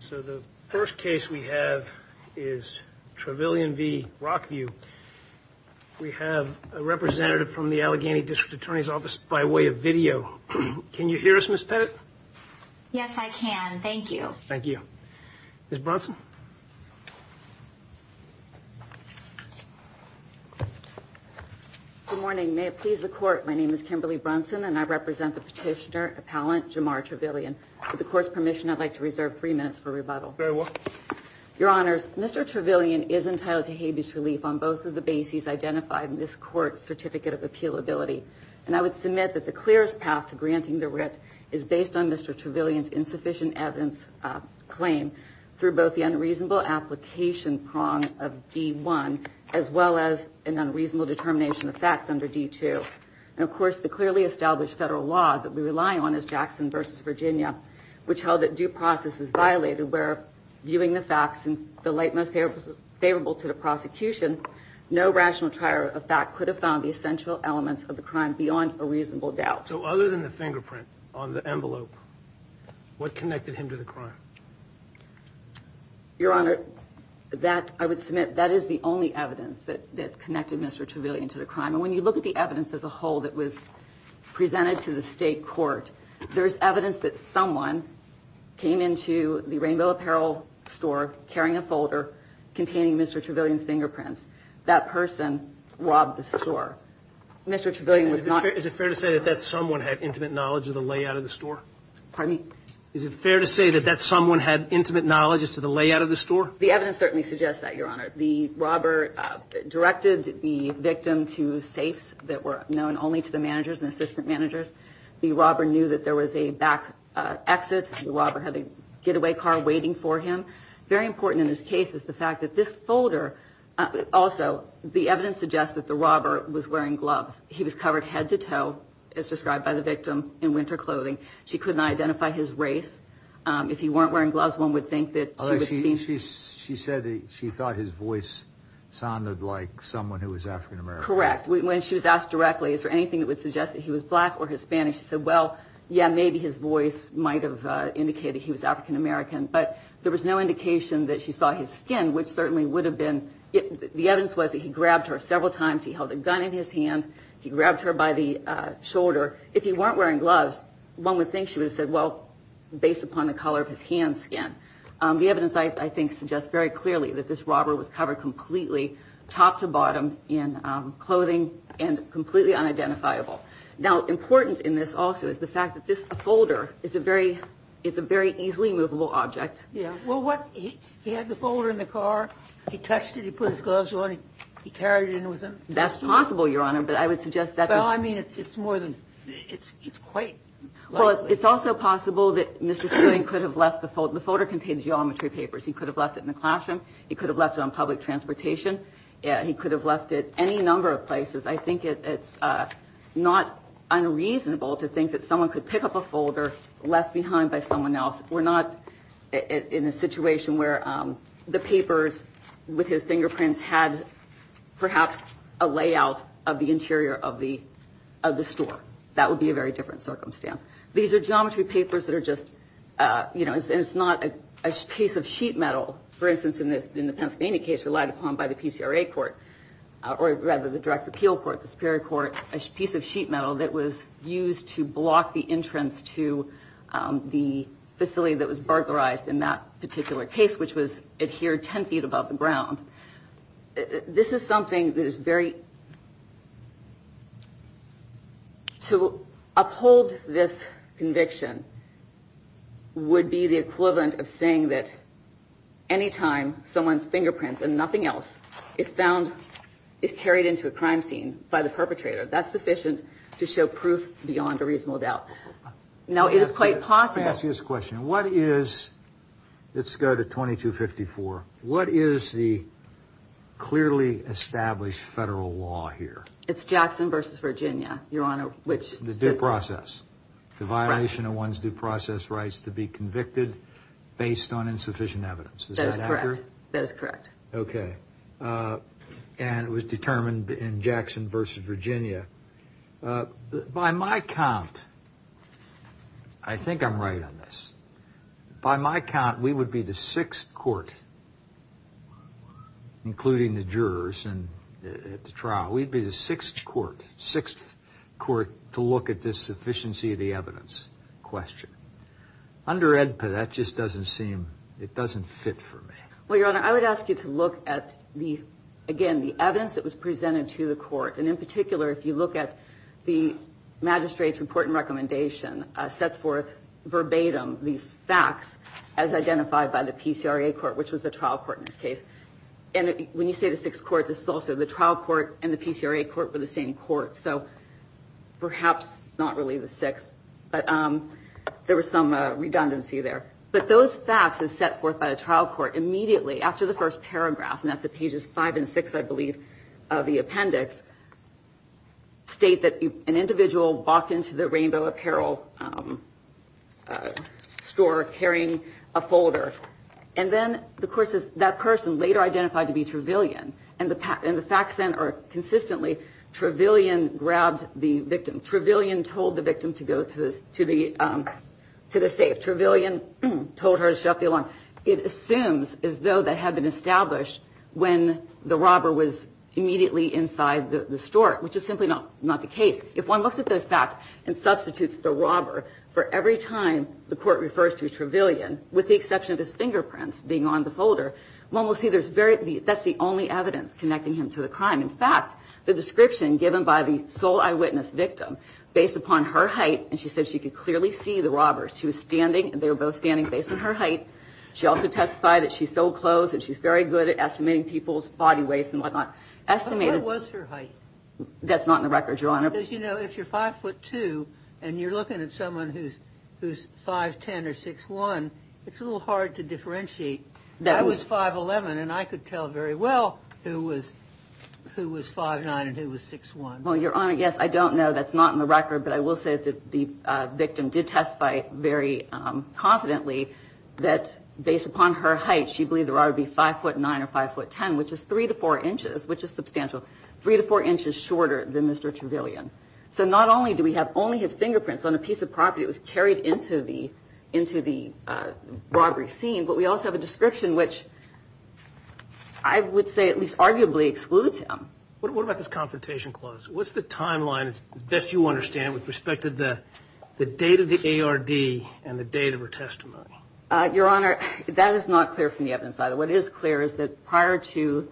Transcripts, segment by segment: So the first case we have is Travillion v. Rockview. We have a representative from the Allegheny District Attorney's Office by way of video. Can you hear us, Miss Pettit? Yes, I can. Thank you. Thank you. Miss Bronson. Good morning. May it please the court. My name is Kimberly Bronson and I represent the petitioner appellant Jamar Travillion. With the court's permission, I'd like to reserve three minutes for rebuttal. Very well. Your Honors, Mr. Travillion is entitled to habeas relief on both of the bases identified in this court's certificate of appealability. And I would submit that the clearest path to granting the writ is based on Mr. Travillion's insufficient evidence claim through both the unreasonable application prong of D1 as well as an unreasonable determination of facts under D2. And of course, the clearly established federal law that we rely on is Jackson v. Virginia, which held that due process is violated where viewing the facts in the light most favorable to the prosecution. No rational trier of fact could have found the essential elements of the crime beyond a reasonable doubt. So other than the fingerprint on the envelope, what connected him to the crime? Your Honor, that I would submit that is the only evidence that connected Mr. Travillion to the crime. And when you look at the evidence as a whole that was presented to the state court, there is evidence that someone came into the Rainbow Apparel store carrying a folder containing Mr. Travillion's fingerprints. That person robbed the store. Mr. Travillion was not. Is it fair to say that someone had intimate knowledge of the layout of the store? Pardon me? Is it fair to say that someone had intimate knowledge as to the layout of the store? The evidence certainly suggests that, Your Honor. The robber directed the victim to safes that were known only to the managers and assistant managers. The robber knew that there was a back exit. The robber had a getaway car waiting for him. Very important in this case is the fact that this folder also the evidence suggests that the robber was wearing gloves. He was covered head to toe, as described by the victim, in winter clothing. She could not identify his race. If he weren't wearing gloves, one would think that she would have seen. She said that she thought his voice sounded like someone who was African-American. Correct. When she was asked directly, is there anything that would suggest that he was black or Hispanic? She said, well, yeah, maybe his voice might have indicated he was African-American. But there was no indication that she saw his skin, which certainly would have been. The evidence was that he grabbed her several times. He held a gun in his hand. He grabbed her by the shoulder. If he weren't wearing gloves, one would think she would have said, well, based upon the color of his hand skin. The evidence, I think, suggests very clearly that this robber was covered completely top to bottom in clothing and completely unidentifiable. Now, important in this also is the fact that this folder is a very it's a very easily movable object. Yeah. Well, what he had the folder in the car. He touched it. He put his gloves on. He carried it in with him. That's possible, Your Honor. But I would suggest that. Well, I mean, it's more than it's it's quite. Well, it's also possible that Mr. Sterling could have left the photo, the photo contained geometry papers. He could have left it in the classroom. He could have left it on public transportation. Yeah, he could have left it any number of places. I think it's not unreasonable to think that someone could pick up a folder left behind by someone else. We're not in a situation where the papers with his fingerprints had perhaps a layout of the interior of the of the store. That would be a very different circumstance. These are geometry papers that are just, you know, it's not a case of sheet metal. For instance, in this in the Pennsylvania case relied upon by the PCRA court or rather the direct appeal court, the Superior Court, a piece of sheet metal that was used to block the entrance to the facility that was burglarized in that particular case, which was adhered 10 feet above the ground. This is something that is very. To uphold this conviction. Would be the equivalent of saying that any time someone's fingerprints and nothing else is found, is carried into a crime scene by the perpetrator, that's sufficient to show proof beyond a reasonable doubt. Now, it is quite possible. Let me ask you this question. What is let's go to 2254. What is the clearly established federal law here? It's Jackson versus Virginia, Your Honor, which is due process. It's a violation of one's due process rights to be convicted based on insufficient evidence. That is correct. That is correct. OK. And it was determined in Jackson versus Virginia. By my count, I think I'm right on this. By my count, we would be the sixth court, including the jurors. And at the trial, we'd be the sixth court, sixth court to look at this sufficiency of the evidence question under Edpa. That just doesn't seem it doesn't fit for me. Well, Your Honor, I would ask you to look at the again, the evidence that was presented to the court. And in particular, if you look at the magistrate's important recommendation sets forth verbatim, the facts as identified by the PCRA court, which was a trial court in this case. And when you say the sixth court, this is also the trial court and the PCRA court for the same court. So perhaps not really the six, but there was some redundancy there. But those facts is set forth by a trial court immediately after the first paragraph. And that's the pages five and six, I believe, of the appendix. State that an individual walked into the rainbow apparel store carrying a folder. And then, of course, that person later identified to be Trevelyan. And the facts then are consistently Trevelyan grabbed the victim. Trevelyan told the victim to go to the safe. Trevelyan told her to shut off the alarm. It assumes as though that had been established when the robber was immediately inside the store, which is simply not the case. If one looks at those facts and substitutes the robber for every time the court refers to Trevelyan, with the exception of his fingerprints being on the folder, one will see there's very, that's the only evidence connecting him to the crime. In fact, the description given by the sole eyewitness victim based upon her height, and she said she could clearly see the robbers. She was standing, they were both standing based on her height. She also testified that she's so close that she's very good at estimating people's body weights and whatnot. Estimated. But what was her height? That's not in the record, Your Honor. Because, you know, if you're 5'2 and you're looking at someone who's 5'10 or 6'1, it's a little hard to differentiate. I was 5'11 and I could tell very well who was 5'9 and who was 6'1. Well, Your Honor, yes, I don't know. That's not in the record, but I will say that the victim did testify very confidently that based upon her height, she believed the robber would be 5'9 or 5'10, which is 3 to 4 inches, which is substantial, 3 to 4 inches shorter than Mr. Trevelyan. So not only do we have only his fingerprints on a piece of property that was carried into the robbery scene, but we also have a description which I would say at least arguably excludes him. What about this confrontation clause? What's the timeline, as best you understand, with respect to the date of the ARD and the date of her testimony? Your Honor, that is not clear from the evidence either. What is clear is that prior to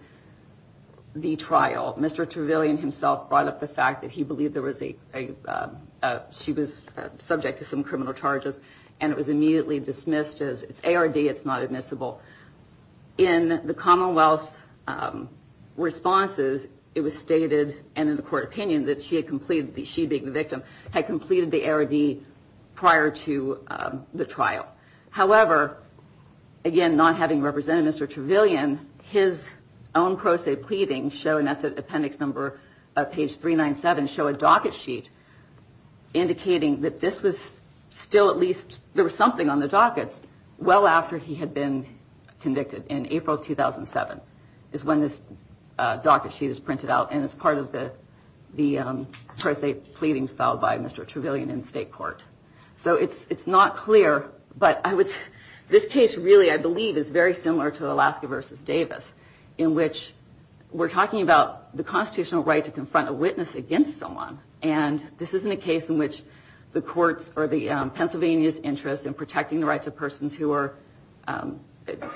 the trial, Mr. Trevelyan himself brought up the fact that he believed she was subject to some criminal charges and it was immediately dismissed as ARD, it's not admissible. In the Commonwealth's responses, it was stated, and in the court opinion, that she had completed, she being the victim, had completed the ARD prior to the trial. However, again, not having represented Mr. Trevelyan, his own pro se pleadings show, and that's at appendix number, page 397, show a docket sheet indicating that this was still at least, there was something on the dockets, well after he had been convicted in April 2007 is when this docket sheet is printed out and it's part of the pro se pleadings filed by Mr. Trevelyan in state court. So it's not clear, but this case really, I believe, is very similar to Alaska v. Davis in which we're talking about the constitutional right to confront a witness against someone and this isn't a case in which the courts or the Pennsylvania's interest in protecting the rights of persons who are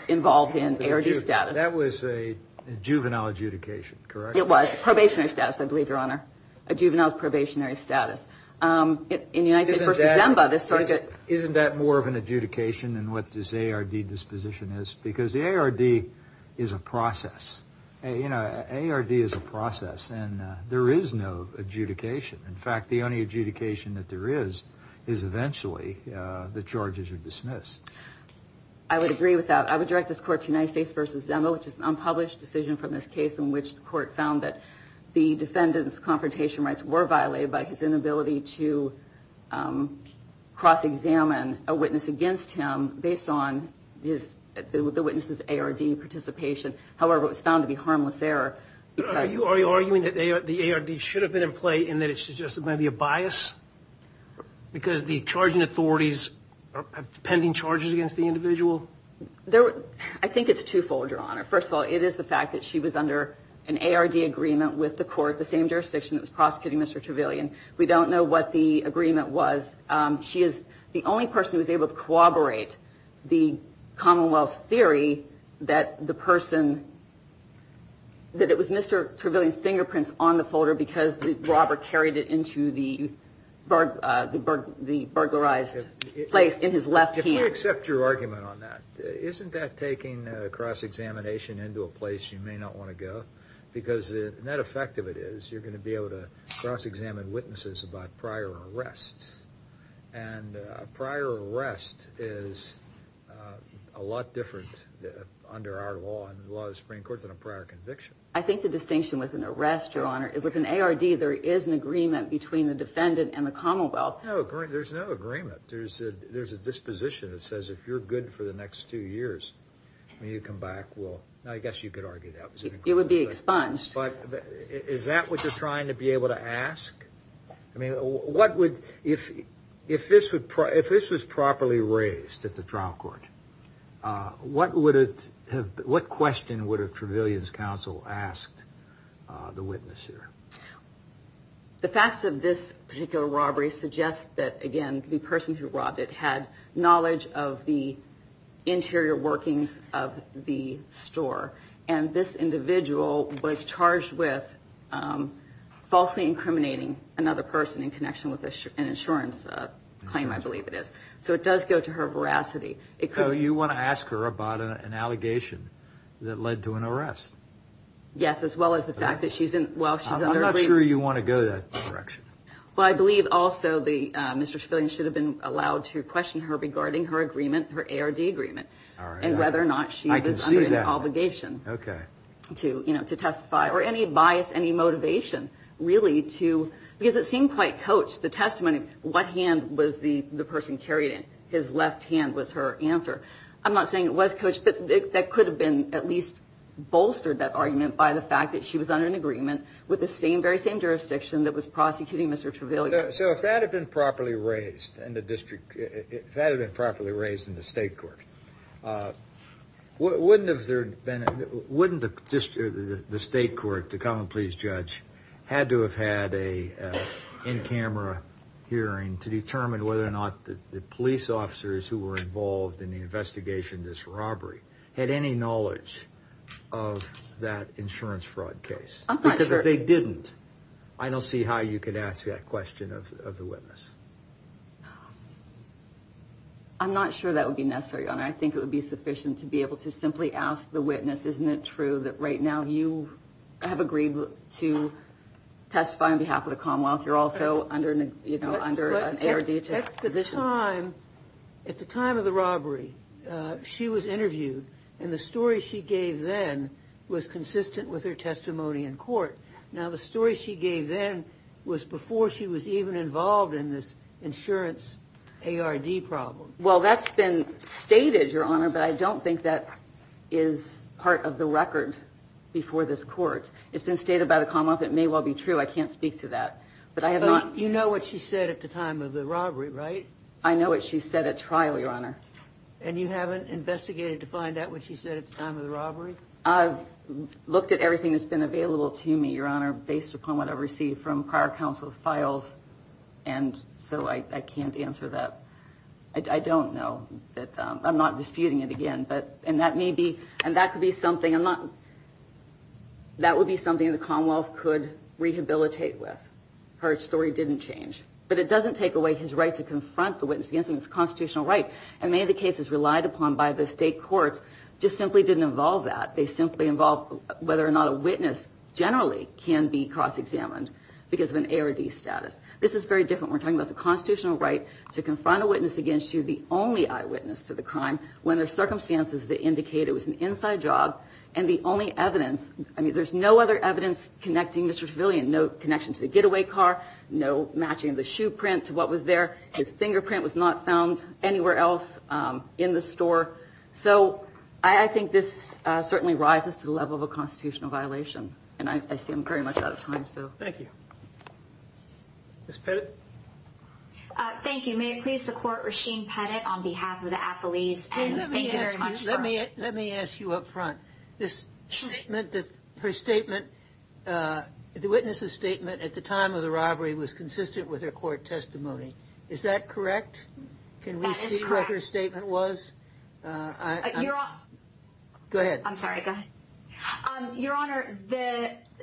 involved in ARD status. That was a juvenile adjudication, correct? It was, probationary status, I believe, Your Honor. A juvenile's probationary status. Isn't that more of an adjudication than what this ARD disposition is? Because the ARD is a process. ARD is a process and there is no adjudication. In fact, the only adjudication that there is, is eventually the charges are dismissed. I would agree with that. I would direct this court to United States v. Zemo, which is an unpublished decision from this case in which the court found that the defendant's confrontation rights were violated by his inability to cross-examine a witness against him based on the witness's ARD participation. However, it was found to be harmless error. Are you arguing that the ARD should have been in play and that it's just maybe a bias? Because the charging authorities have pending charges against the individual? I think it's two-fold, Your Honor. First of all, it is the fact that she was under an ARD agreement with the court, the same jurisdiction that was prosecuting Mr. Trevelyan. We don't know what the agreement was. She is the only person who was able to corroborate the Commonwealth's theory that it was Mr. Trevelyan's fingerprints on the folder because the robber carried it into the burglarized place in his left hand. If I accept your argument on that, isn't that taking a cross-examination into a place you may not want to go? Because the net effect of it is you're going to be able to cross-examine witnesses about prior arrests. And a prior arrest is a lot different under our law and the law of the Supreme Court than a prior conviction. I think the distinction with an arrest, Your Honor, with an ARD there is an agreement between the defendant and the Commonwealth. No, there's no agreement. There's a disposition that says if you're good for the next two years, when you come back, well, I guess you could argue that was an agreement. It would be expunged. But is that what you're trying to be able to ask? I mean, if this was properly raised at the trial court, what question would a Trevelyan's counsel ask the witness here? The facts of this particular robbery suggest that, again, the person who robbed it had knowledge of the interior workings of the store. And this individual was charged with falsely incriminating another person in connection with an insurance claim, I believe it is. So it does go to her veracity. So you want to ask her about an allegation that led to an arrest? Yes, as well as the fact that she's in – well, she's under – I'm not sure you want to go that direction. Well, I believe also Mr. Trevelyan should have been allowed to question her regarding her agreement, her ARD agreement. All right. And whether or not she was under an obligation to testify or any bias, any motivation really to – because it seemed quite coached, the testimony, what hand was the person carried in. His left hand was her answer. I'm not saying it was coached, but that could have been at least bolstered, that argument, by the fact that she was under an agreement with the very same jurisdiction that was prosecuting Mr. Trevelyan. So if that had been properly raised in the district, if that had been properly raised in the state court, wouldn't the state court, the common pleas judge, had to have had an in-camera hearing to determine whether or not the police officers who were involved in the investigation of this robbery had any knowledge of that insurance fraud case? I'm not sure. If they didn't, I don't see how you could ask that question of the witness. I'm not sure that would be necessary. I think it would be sufficient to be able to simply ask the witness, isn't it true that right now you have agreed to testify on behalf of the Commonwealth? You're also under an ARD position. At the time of the robbery, she was interviewed, and the story she gave then was consistent with her testimony in court. Now, the story she gave then was before she was even involved in this insurance ARD problem. Well, that's been stated, Your Honor, but I don't think that is part of the record before this court. It's been stated by the Commonwealth. It may well be true. I can't speak to that. But you know what she said at the time of the robbery, right? I know what she said at trial, Your Honor. And you haven't investigated to find out what she said at the time of the robbery? I've looked at everything that's been available to me, Your Honor, based upon what I've received from prior counsel's files, and so I can't answer that. I don't know. I'm not disputing it again, and that could be something the Commonwealth could rehabilitate with. Her story didn't change. But it doesn't take away his right to confront the witness against him. And many of the cases relied upon by the state courts just simply didn't involve that. They simply involved whether or not a witness generally can be cross-examined because of an ARD status. This is very different. We're talking about the constitutional right to confront a witness against you, the only eyewitness to the crime, when there are circumstances that indicate it was an inside job and the only evidence, I mean, there's no other evidence connecting Mr. Tavillian, no connection to the getaway car, no matching of the shoe print to what was there. His fingerprint was not found anywhere else in the store. So I think this certainly rises to the level of a constitutional violation, and I see I'm very much out of time, so. Thank you. Ms. Pettit. Thank you. May it please the Court, Rasheen Pettit on behalf of the appellees. Let me ask you up front. This statement, her statement, the witness's statement at the time of the robbery was consistent with her court testimony. Is that correct? That is correct. Can we see what her statement was? Go ahead. I'm sorry. Go ahead. Your Honor,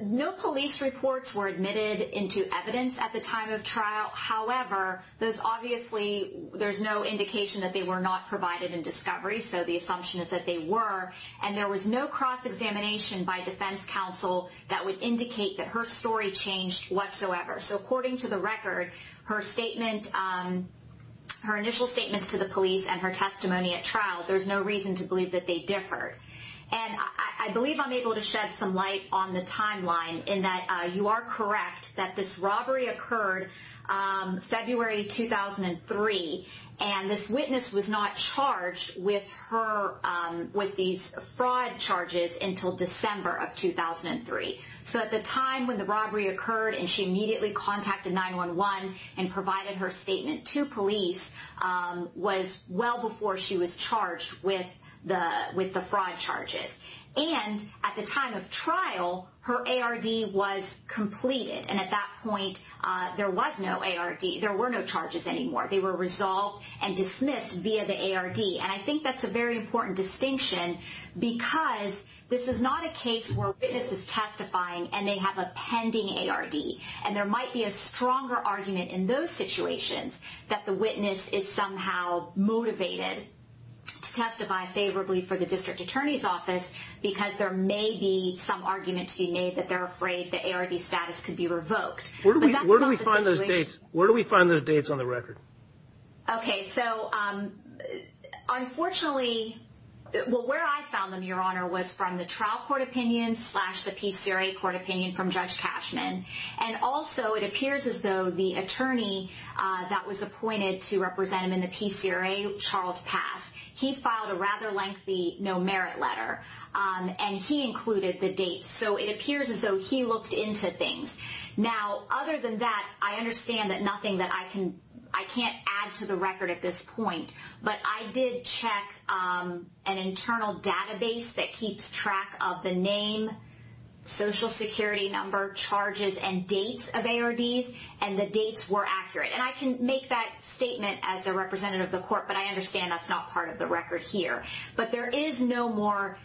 no police reports were admitted into evidence at the time of trial. However, there's obviously no indication that they were not provided in discovery, so the assumption is that they were. And there was no cross-examination by defense counsel that would indicate that her story changed whatsoever. So according to the record, her statement, her initial statements to the police and her testimony at trial, there's no reason to believe that they differed. And I believe I'm able to shed some light on the timeline in that you are correct that this robbery occurred February 2003, and this witness was not charged with these fraud charges until December of 2003. So at the time when the robbery occurred and she immediately contacted 911 and provided her statement to police was well before she was charged with the fraud charges. And at the time of trial, her ARD was completed. And at that point, there was no ARD. There were no charges anymore. They were resolved and dismissed via the ARD. And I think that's a very important distinction because this is not a case where a witness is testifying and they have a pending ARD. And there might be a stronger argument in those situations that the witness is somehow motivated to testify favorably for the district attorney's office because there may be some argument to be made that they're afraid the ARD status could be revoked. Where do we find those dates? Where do we find those dates on the record? Okay, so unfortunately, well, where I found them, Your Honor, was from the trial court opinion slash the PCRA court opinion from Judge Cashman. And also it appears as though the attorney that was appointed to represent him in the PCRA, Charles Pass, he filed a rather lengthy no-merit letter, and he included the dates. So it appears as though he looked into things. Now, other than that, I understand that nothing that I can't add to the record at this point, but I did check an internal database that keeps track of the name, social security number, charges, and dates of ARDs, and the dates were accurate. And I can make that statement as the representative of the court, but I understand that's not part of the record here. But there is no more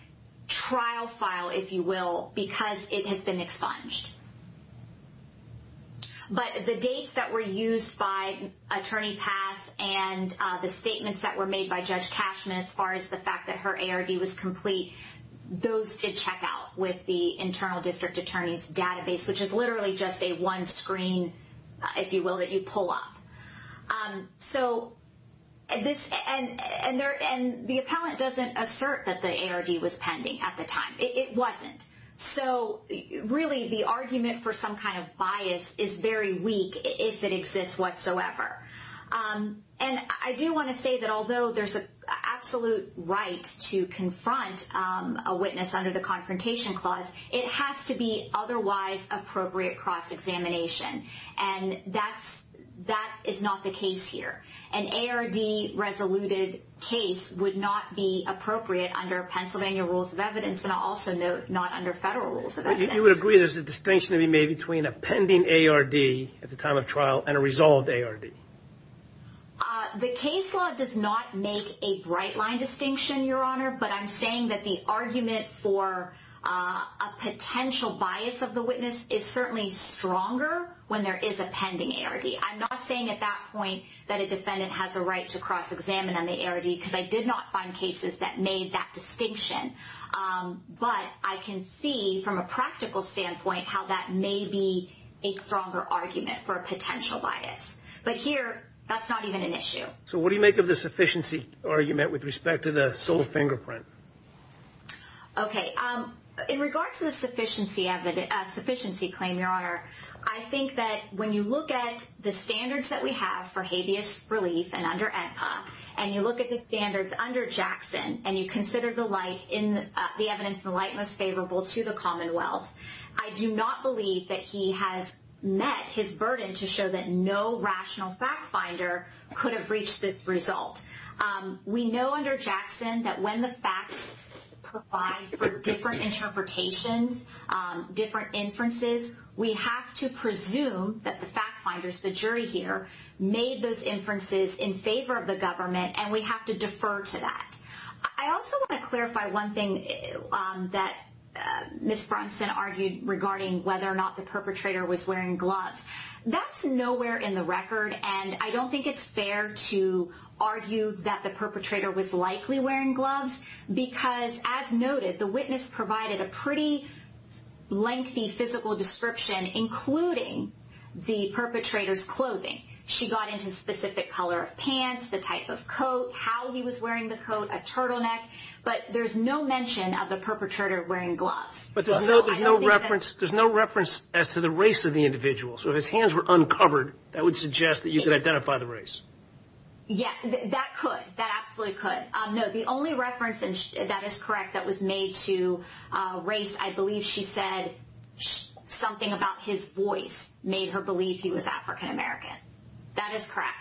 trial file, if you will, because it has been expunged. But the dates that were used by Attorney Pass and the statements that were made by Judge Cashman as far as the fact that her ARD was complete, those did check out with the internal district attorney's database, which is literally just a one screen, if you will, that you pull up. And the appellant doesn't assert that the ARD was pending at the time. It wasn't. So really the argument for some kind of bias is very weak if it exists whatsoever. And I do want to say that although there's an absolute right to confront a witness under the Confrontation Clause, it has to be otherwise appropriate cross-examination. And that is not the case here. An ARD-resoluted case would not be appropriate under Pennsylvania rules of evidence, and I'll also note not under federal rules of evidence. You would agree there's a distinction to be made between a pending ARD at the time of trial and a resolved ARD? The case law does not make a bright line distinction, Your Honor, but I'm saying that the argument for a potential bias of the witness is certainly stronger when there is a pending ARD. I'm not saying at that point that a defendant has a right to cross-examine on the ARD because I did not find cases that made that distinction. But I can see from a practical standpoint how that may be a stronger argument for a potential bias. So what do you make of the sufficiency argument with respect to the sole fingerprint? Okay. In regards to the sufficiency claim, Your Honor, I think that when you look at the standards that we have for habeas relief and under ENPA, and you look at the standards under Jackson, and you consider the evidence in the light most favorable to the Commonwealth, I do not believe that he has met his burden to show that no rational fact finder could have reached this result. We know under Jackson that when the facts provide for different interpretations, different inferences, we have to presume that the fact finders, the jury here, made those inferences in favor of the government, and we have to defer to that. I also want to clarify one thing that Ms. Brunson argued regarding whether or not the perpetrator was wearing gloves. That's nowhere in the record, and I don't think it's fair to argue that the perpetrator was likely wearing gloves because, as noted, the witness provided a pretty lengthy physical description, including the perpetrator's clothing. She got into specific color of pants, the type of coat, how he was wearing the coat, a turtleneck, but there's no mention of the perpetrator wearing gloves. But there's no reference as to the race of the individual. So if his hands were uncovered, that would suggest that you could identify the race. Yeah, that could. That absolutely could. No, the only reference that is correct that was made to race, I believe she said something about his voice made her believe he was African American. That is correct.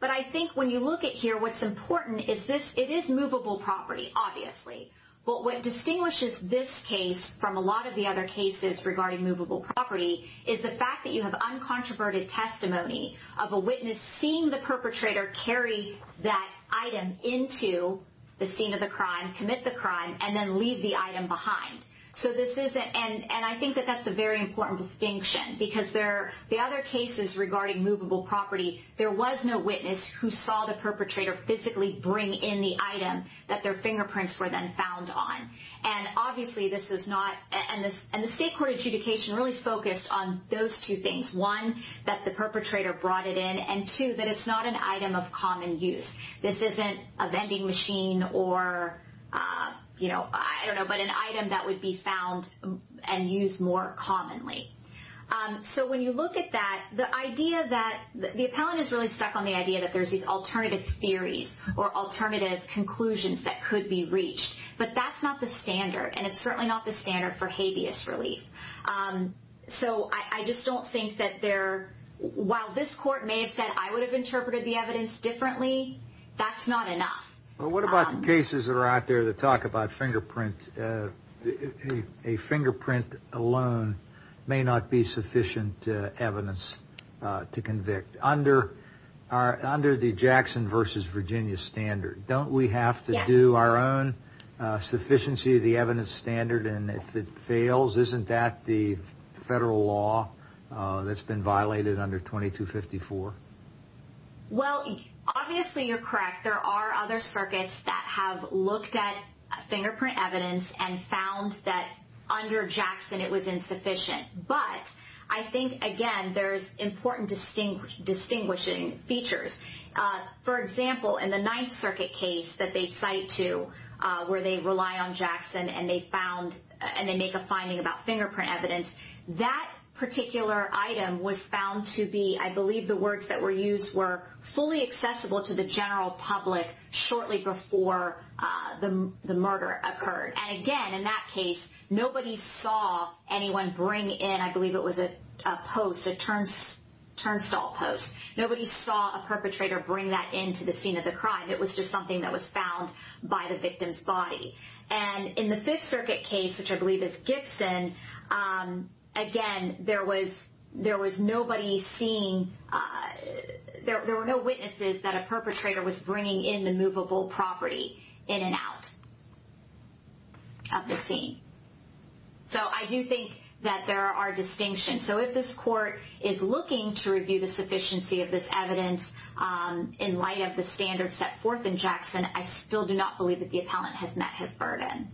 But I think when you look at here, what's important is this. It is movable property, obviously. But what distinguishes this case from a lot of the other cases regarding movable property is the fact that you have uncontroverted testimony of a witness seeing the perpetrator carry that item into the scene of the crime, commit the crime, and then leave the item behind. And I think that that's a very important distinction because the other cases regarding movable property, there was no witness who saw the perpetrator physically bring in the item that their fingerprints were then found on. And obviously this is not – and the state court adjudication really focused on those two things, one, that the perpetrator brought it in, and two, that it's not an item of common use. This isn't a vending machine or, you know, I don't know, but an item that would be found and used more commonly. So when you look at that, the idea that – the appellant is really stuck on the idea that there's these alternative theories or alternative conclusions that could be reached, but that's not the standard, and it's certainly not the standard for habeas relief. So I just don't think that there – while this court may have said, I would have interpreted the evidence differently, that's not enough. Well, what about the cases that are out there that talk about fingerprint? A fingerprint alone may not be sufficient evidence to convict. Under the Jackson v. Virginia standard, don't we have to do our own sufficiency of the evidence standard, and if it fails, isn't that the federal law that's been violated under 2254? Well, obviously you're correct. There are other circuits that have looked at fingerprint evidence and found that under Jackson it was insufficient. But I think, again, there's important distinguishing features. For example, in the Ninth Circuit case that they cite to where they rely on Jackson and they found – and they make a finding about fingerprint evidence, that particular item was found to be – I believe the words that were used were fully accessible to the general public shortly before the murder occurred. And again, in that case, nobody saw anyone bring in – I believe it was a post, a turnstile post. Nobody saw a perpetrator bring that into the scene of the crime. It was just something that was found by the victim's body. And in the Fifth Circuit case, which I believe is Gibson, again, there was nobody seeing – there were no witnesses that a perpetrator was bringing in the movable property in and out of the scene. So I do think that there are distinctions. So if this court is looking to review the sufficiency of this evidence in light of the standards set forth in Jackson, I still do not believe that the appellant has met his burden.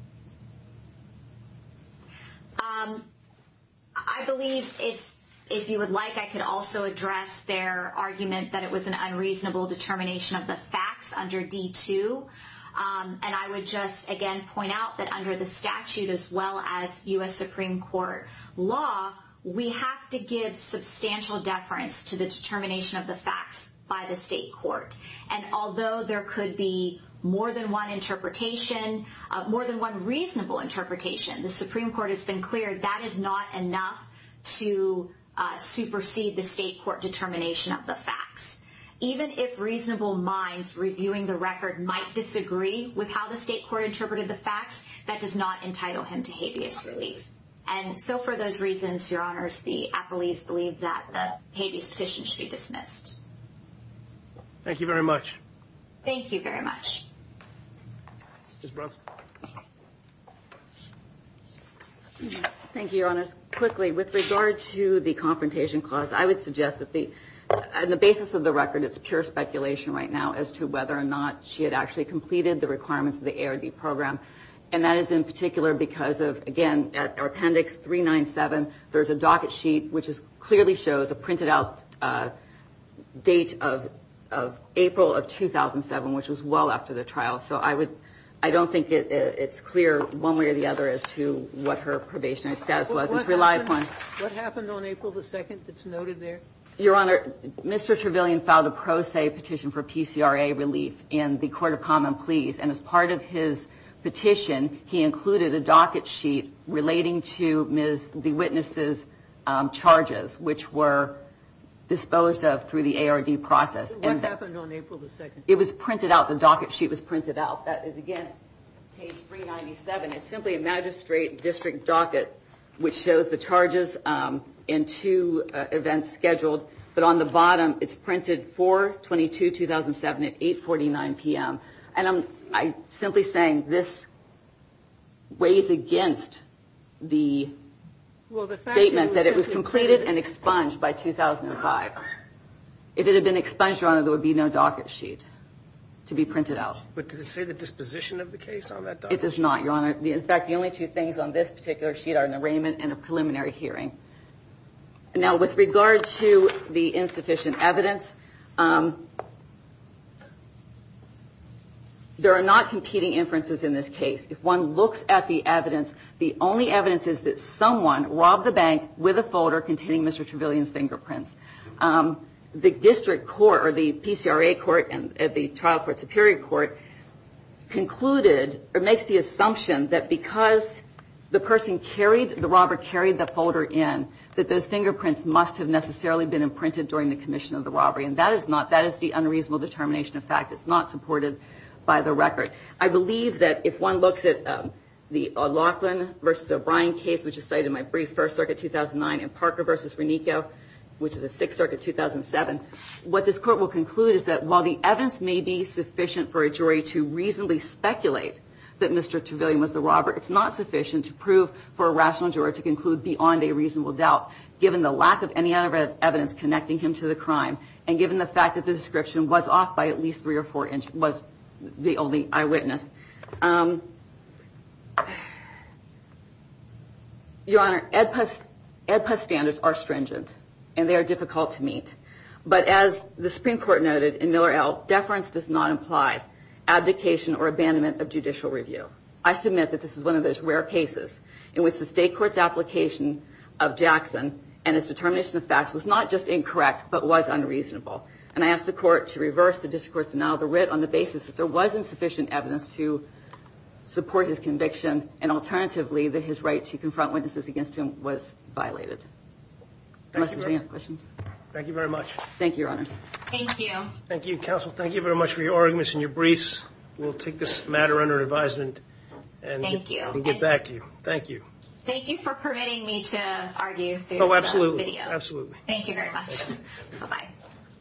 I believe if you would like, I could also address their argument that it was an unreasonable determination of the facts under D2. And I would just, again, point out that under the statute as well as U.S. Supreme Court law, we have to give substantial deference to the determination of the facts by the state court. And although there could be more than one interpretation, more than one reasonable interpretation, the Supreme Court has been clear that is not enough to supersede the state court determination of the facts. Even if reasonable minds reviewing the record might disagree with how the state court interpreted the facts, that does not entitle him to habeas relief. And so for those reasons, Your Honors, the appellees believe that the habeas petition should be dismissed. Thank you very much. Thank you very much. Thank you, Your Honors. Quickly, with regard to the confrontation clause, I would suggest that the basis of the record, it's pure speculation right now as to whether or not she had actually completed the requirements of the ARD program. And that is in particular because of, again, our appendix 397. There's a docket sheet which clearly shows a printed out date of April of 2007, which was well after the trial. So I don't think it's clear one way or the other as to what her probationary status was. What happened on April the 2nd that's noted there? Your Honor, Mr. Trevelyan filed a pro se petition for PCRA relief in the Court of Common Pleas. And as part of his petition, he included a docket sheet relating to Ms. DeWitness's charges, which were disposed of through the ARD process. What happened on April the 2nd? It was printed out. The docket sheet was printed out. That is, again, page 397. It's simply a magistrate district docket, which shows the charges and two events scheduled. But on the bottom, it's printed 4-22-2007 at 8.49 p.m. And I'm simply saying this weighs against the statement that it was completed and expunged by 2005. If it had been expunged, Your Honor, there would be no docket sheet to be printed out. But does it say the disposition of the case on that docket sheet? It does not, Your Honor. In fact, the only two things on this particular sheet are an arraignment and a preliminary hearing. Now, with regard to the insufficient evidence, there are not competing inferences in this case. If one looks at the evidence, the only evidence is that someone robbed the bank with a folder containing Mr. Trevelyan's fingerprints. The district court or the PCRA court and the trial court, superior court, concluded or makes the assumption that because the person carried, the robber carried the folder in, that those fingerprints must have necessarily been imprinted during the commission of the robbery. And that is not, that is the unreasonable determination of fact. It's not supported by the record. I believe that if one looks at the Laughlin v. O'Brien case, which is cited in my brief, 1st Circuit 2009, and Parker v. Renico, which is a 6th Circuit 2007, what this court will conclude is that while the evidence may be sufficient for a jury to reasonably speculate that Mr. Trevelyan was the robber, it's not sufficient to prove for a rational jury to conclude beyond a reasonable doubt, given the lack of any evidence connecting him to the crime, and given the fact that the description was off by at least three or four inches, was the only eyewitness. Your Honor, EDPUS standards are stringent, and they are difficult to meet. But as the Supreme Court noted in Miller L., deference does not imply abdication or abandonment of judicial review. I submit that this is one of those rare cases in which the state court's application of Jackson and its determination of fact was not just incorrect, but was unreasonable. And I ask the court to reverse the discourse and now the writ on the basis that there was insufficient evidence to support his conviction, and alternatively that his right to confront witnesses against him was violated. Questions? Thank you very much. Thank you, Your Honors. Thank you. Thank you, Counsel. Thank you very much for your arguments and your briefs. We'll take this matter under advisement and get back to you. Thank you. Thank you for permitting me to argue. Oh, absolutely. Thank you very much. Bye-bye.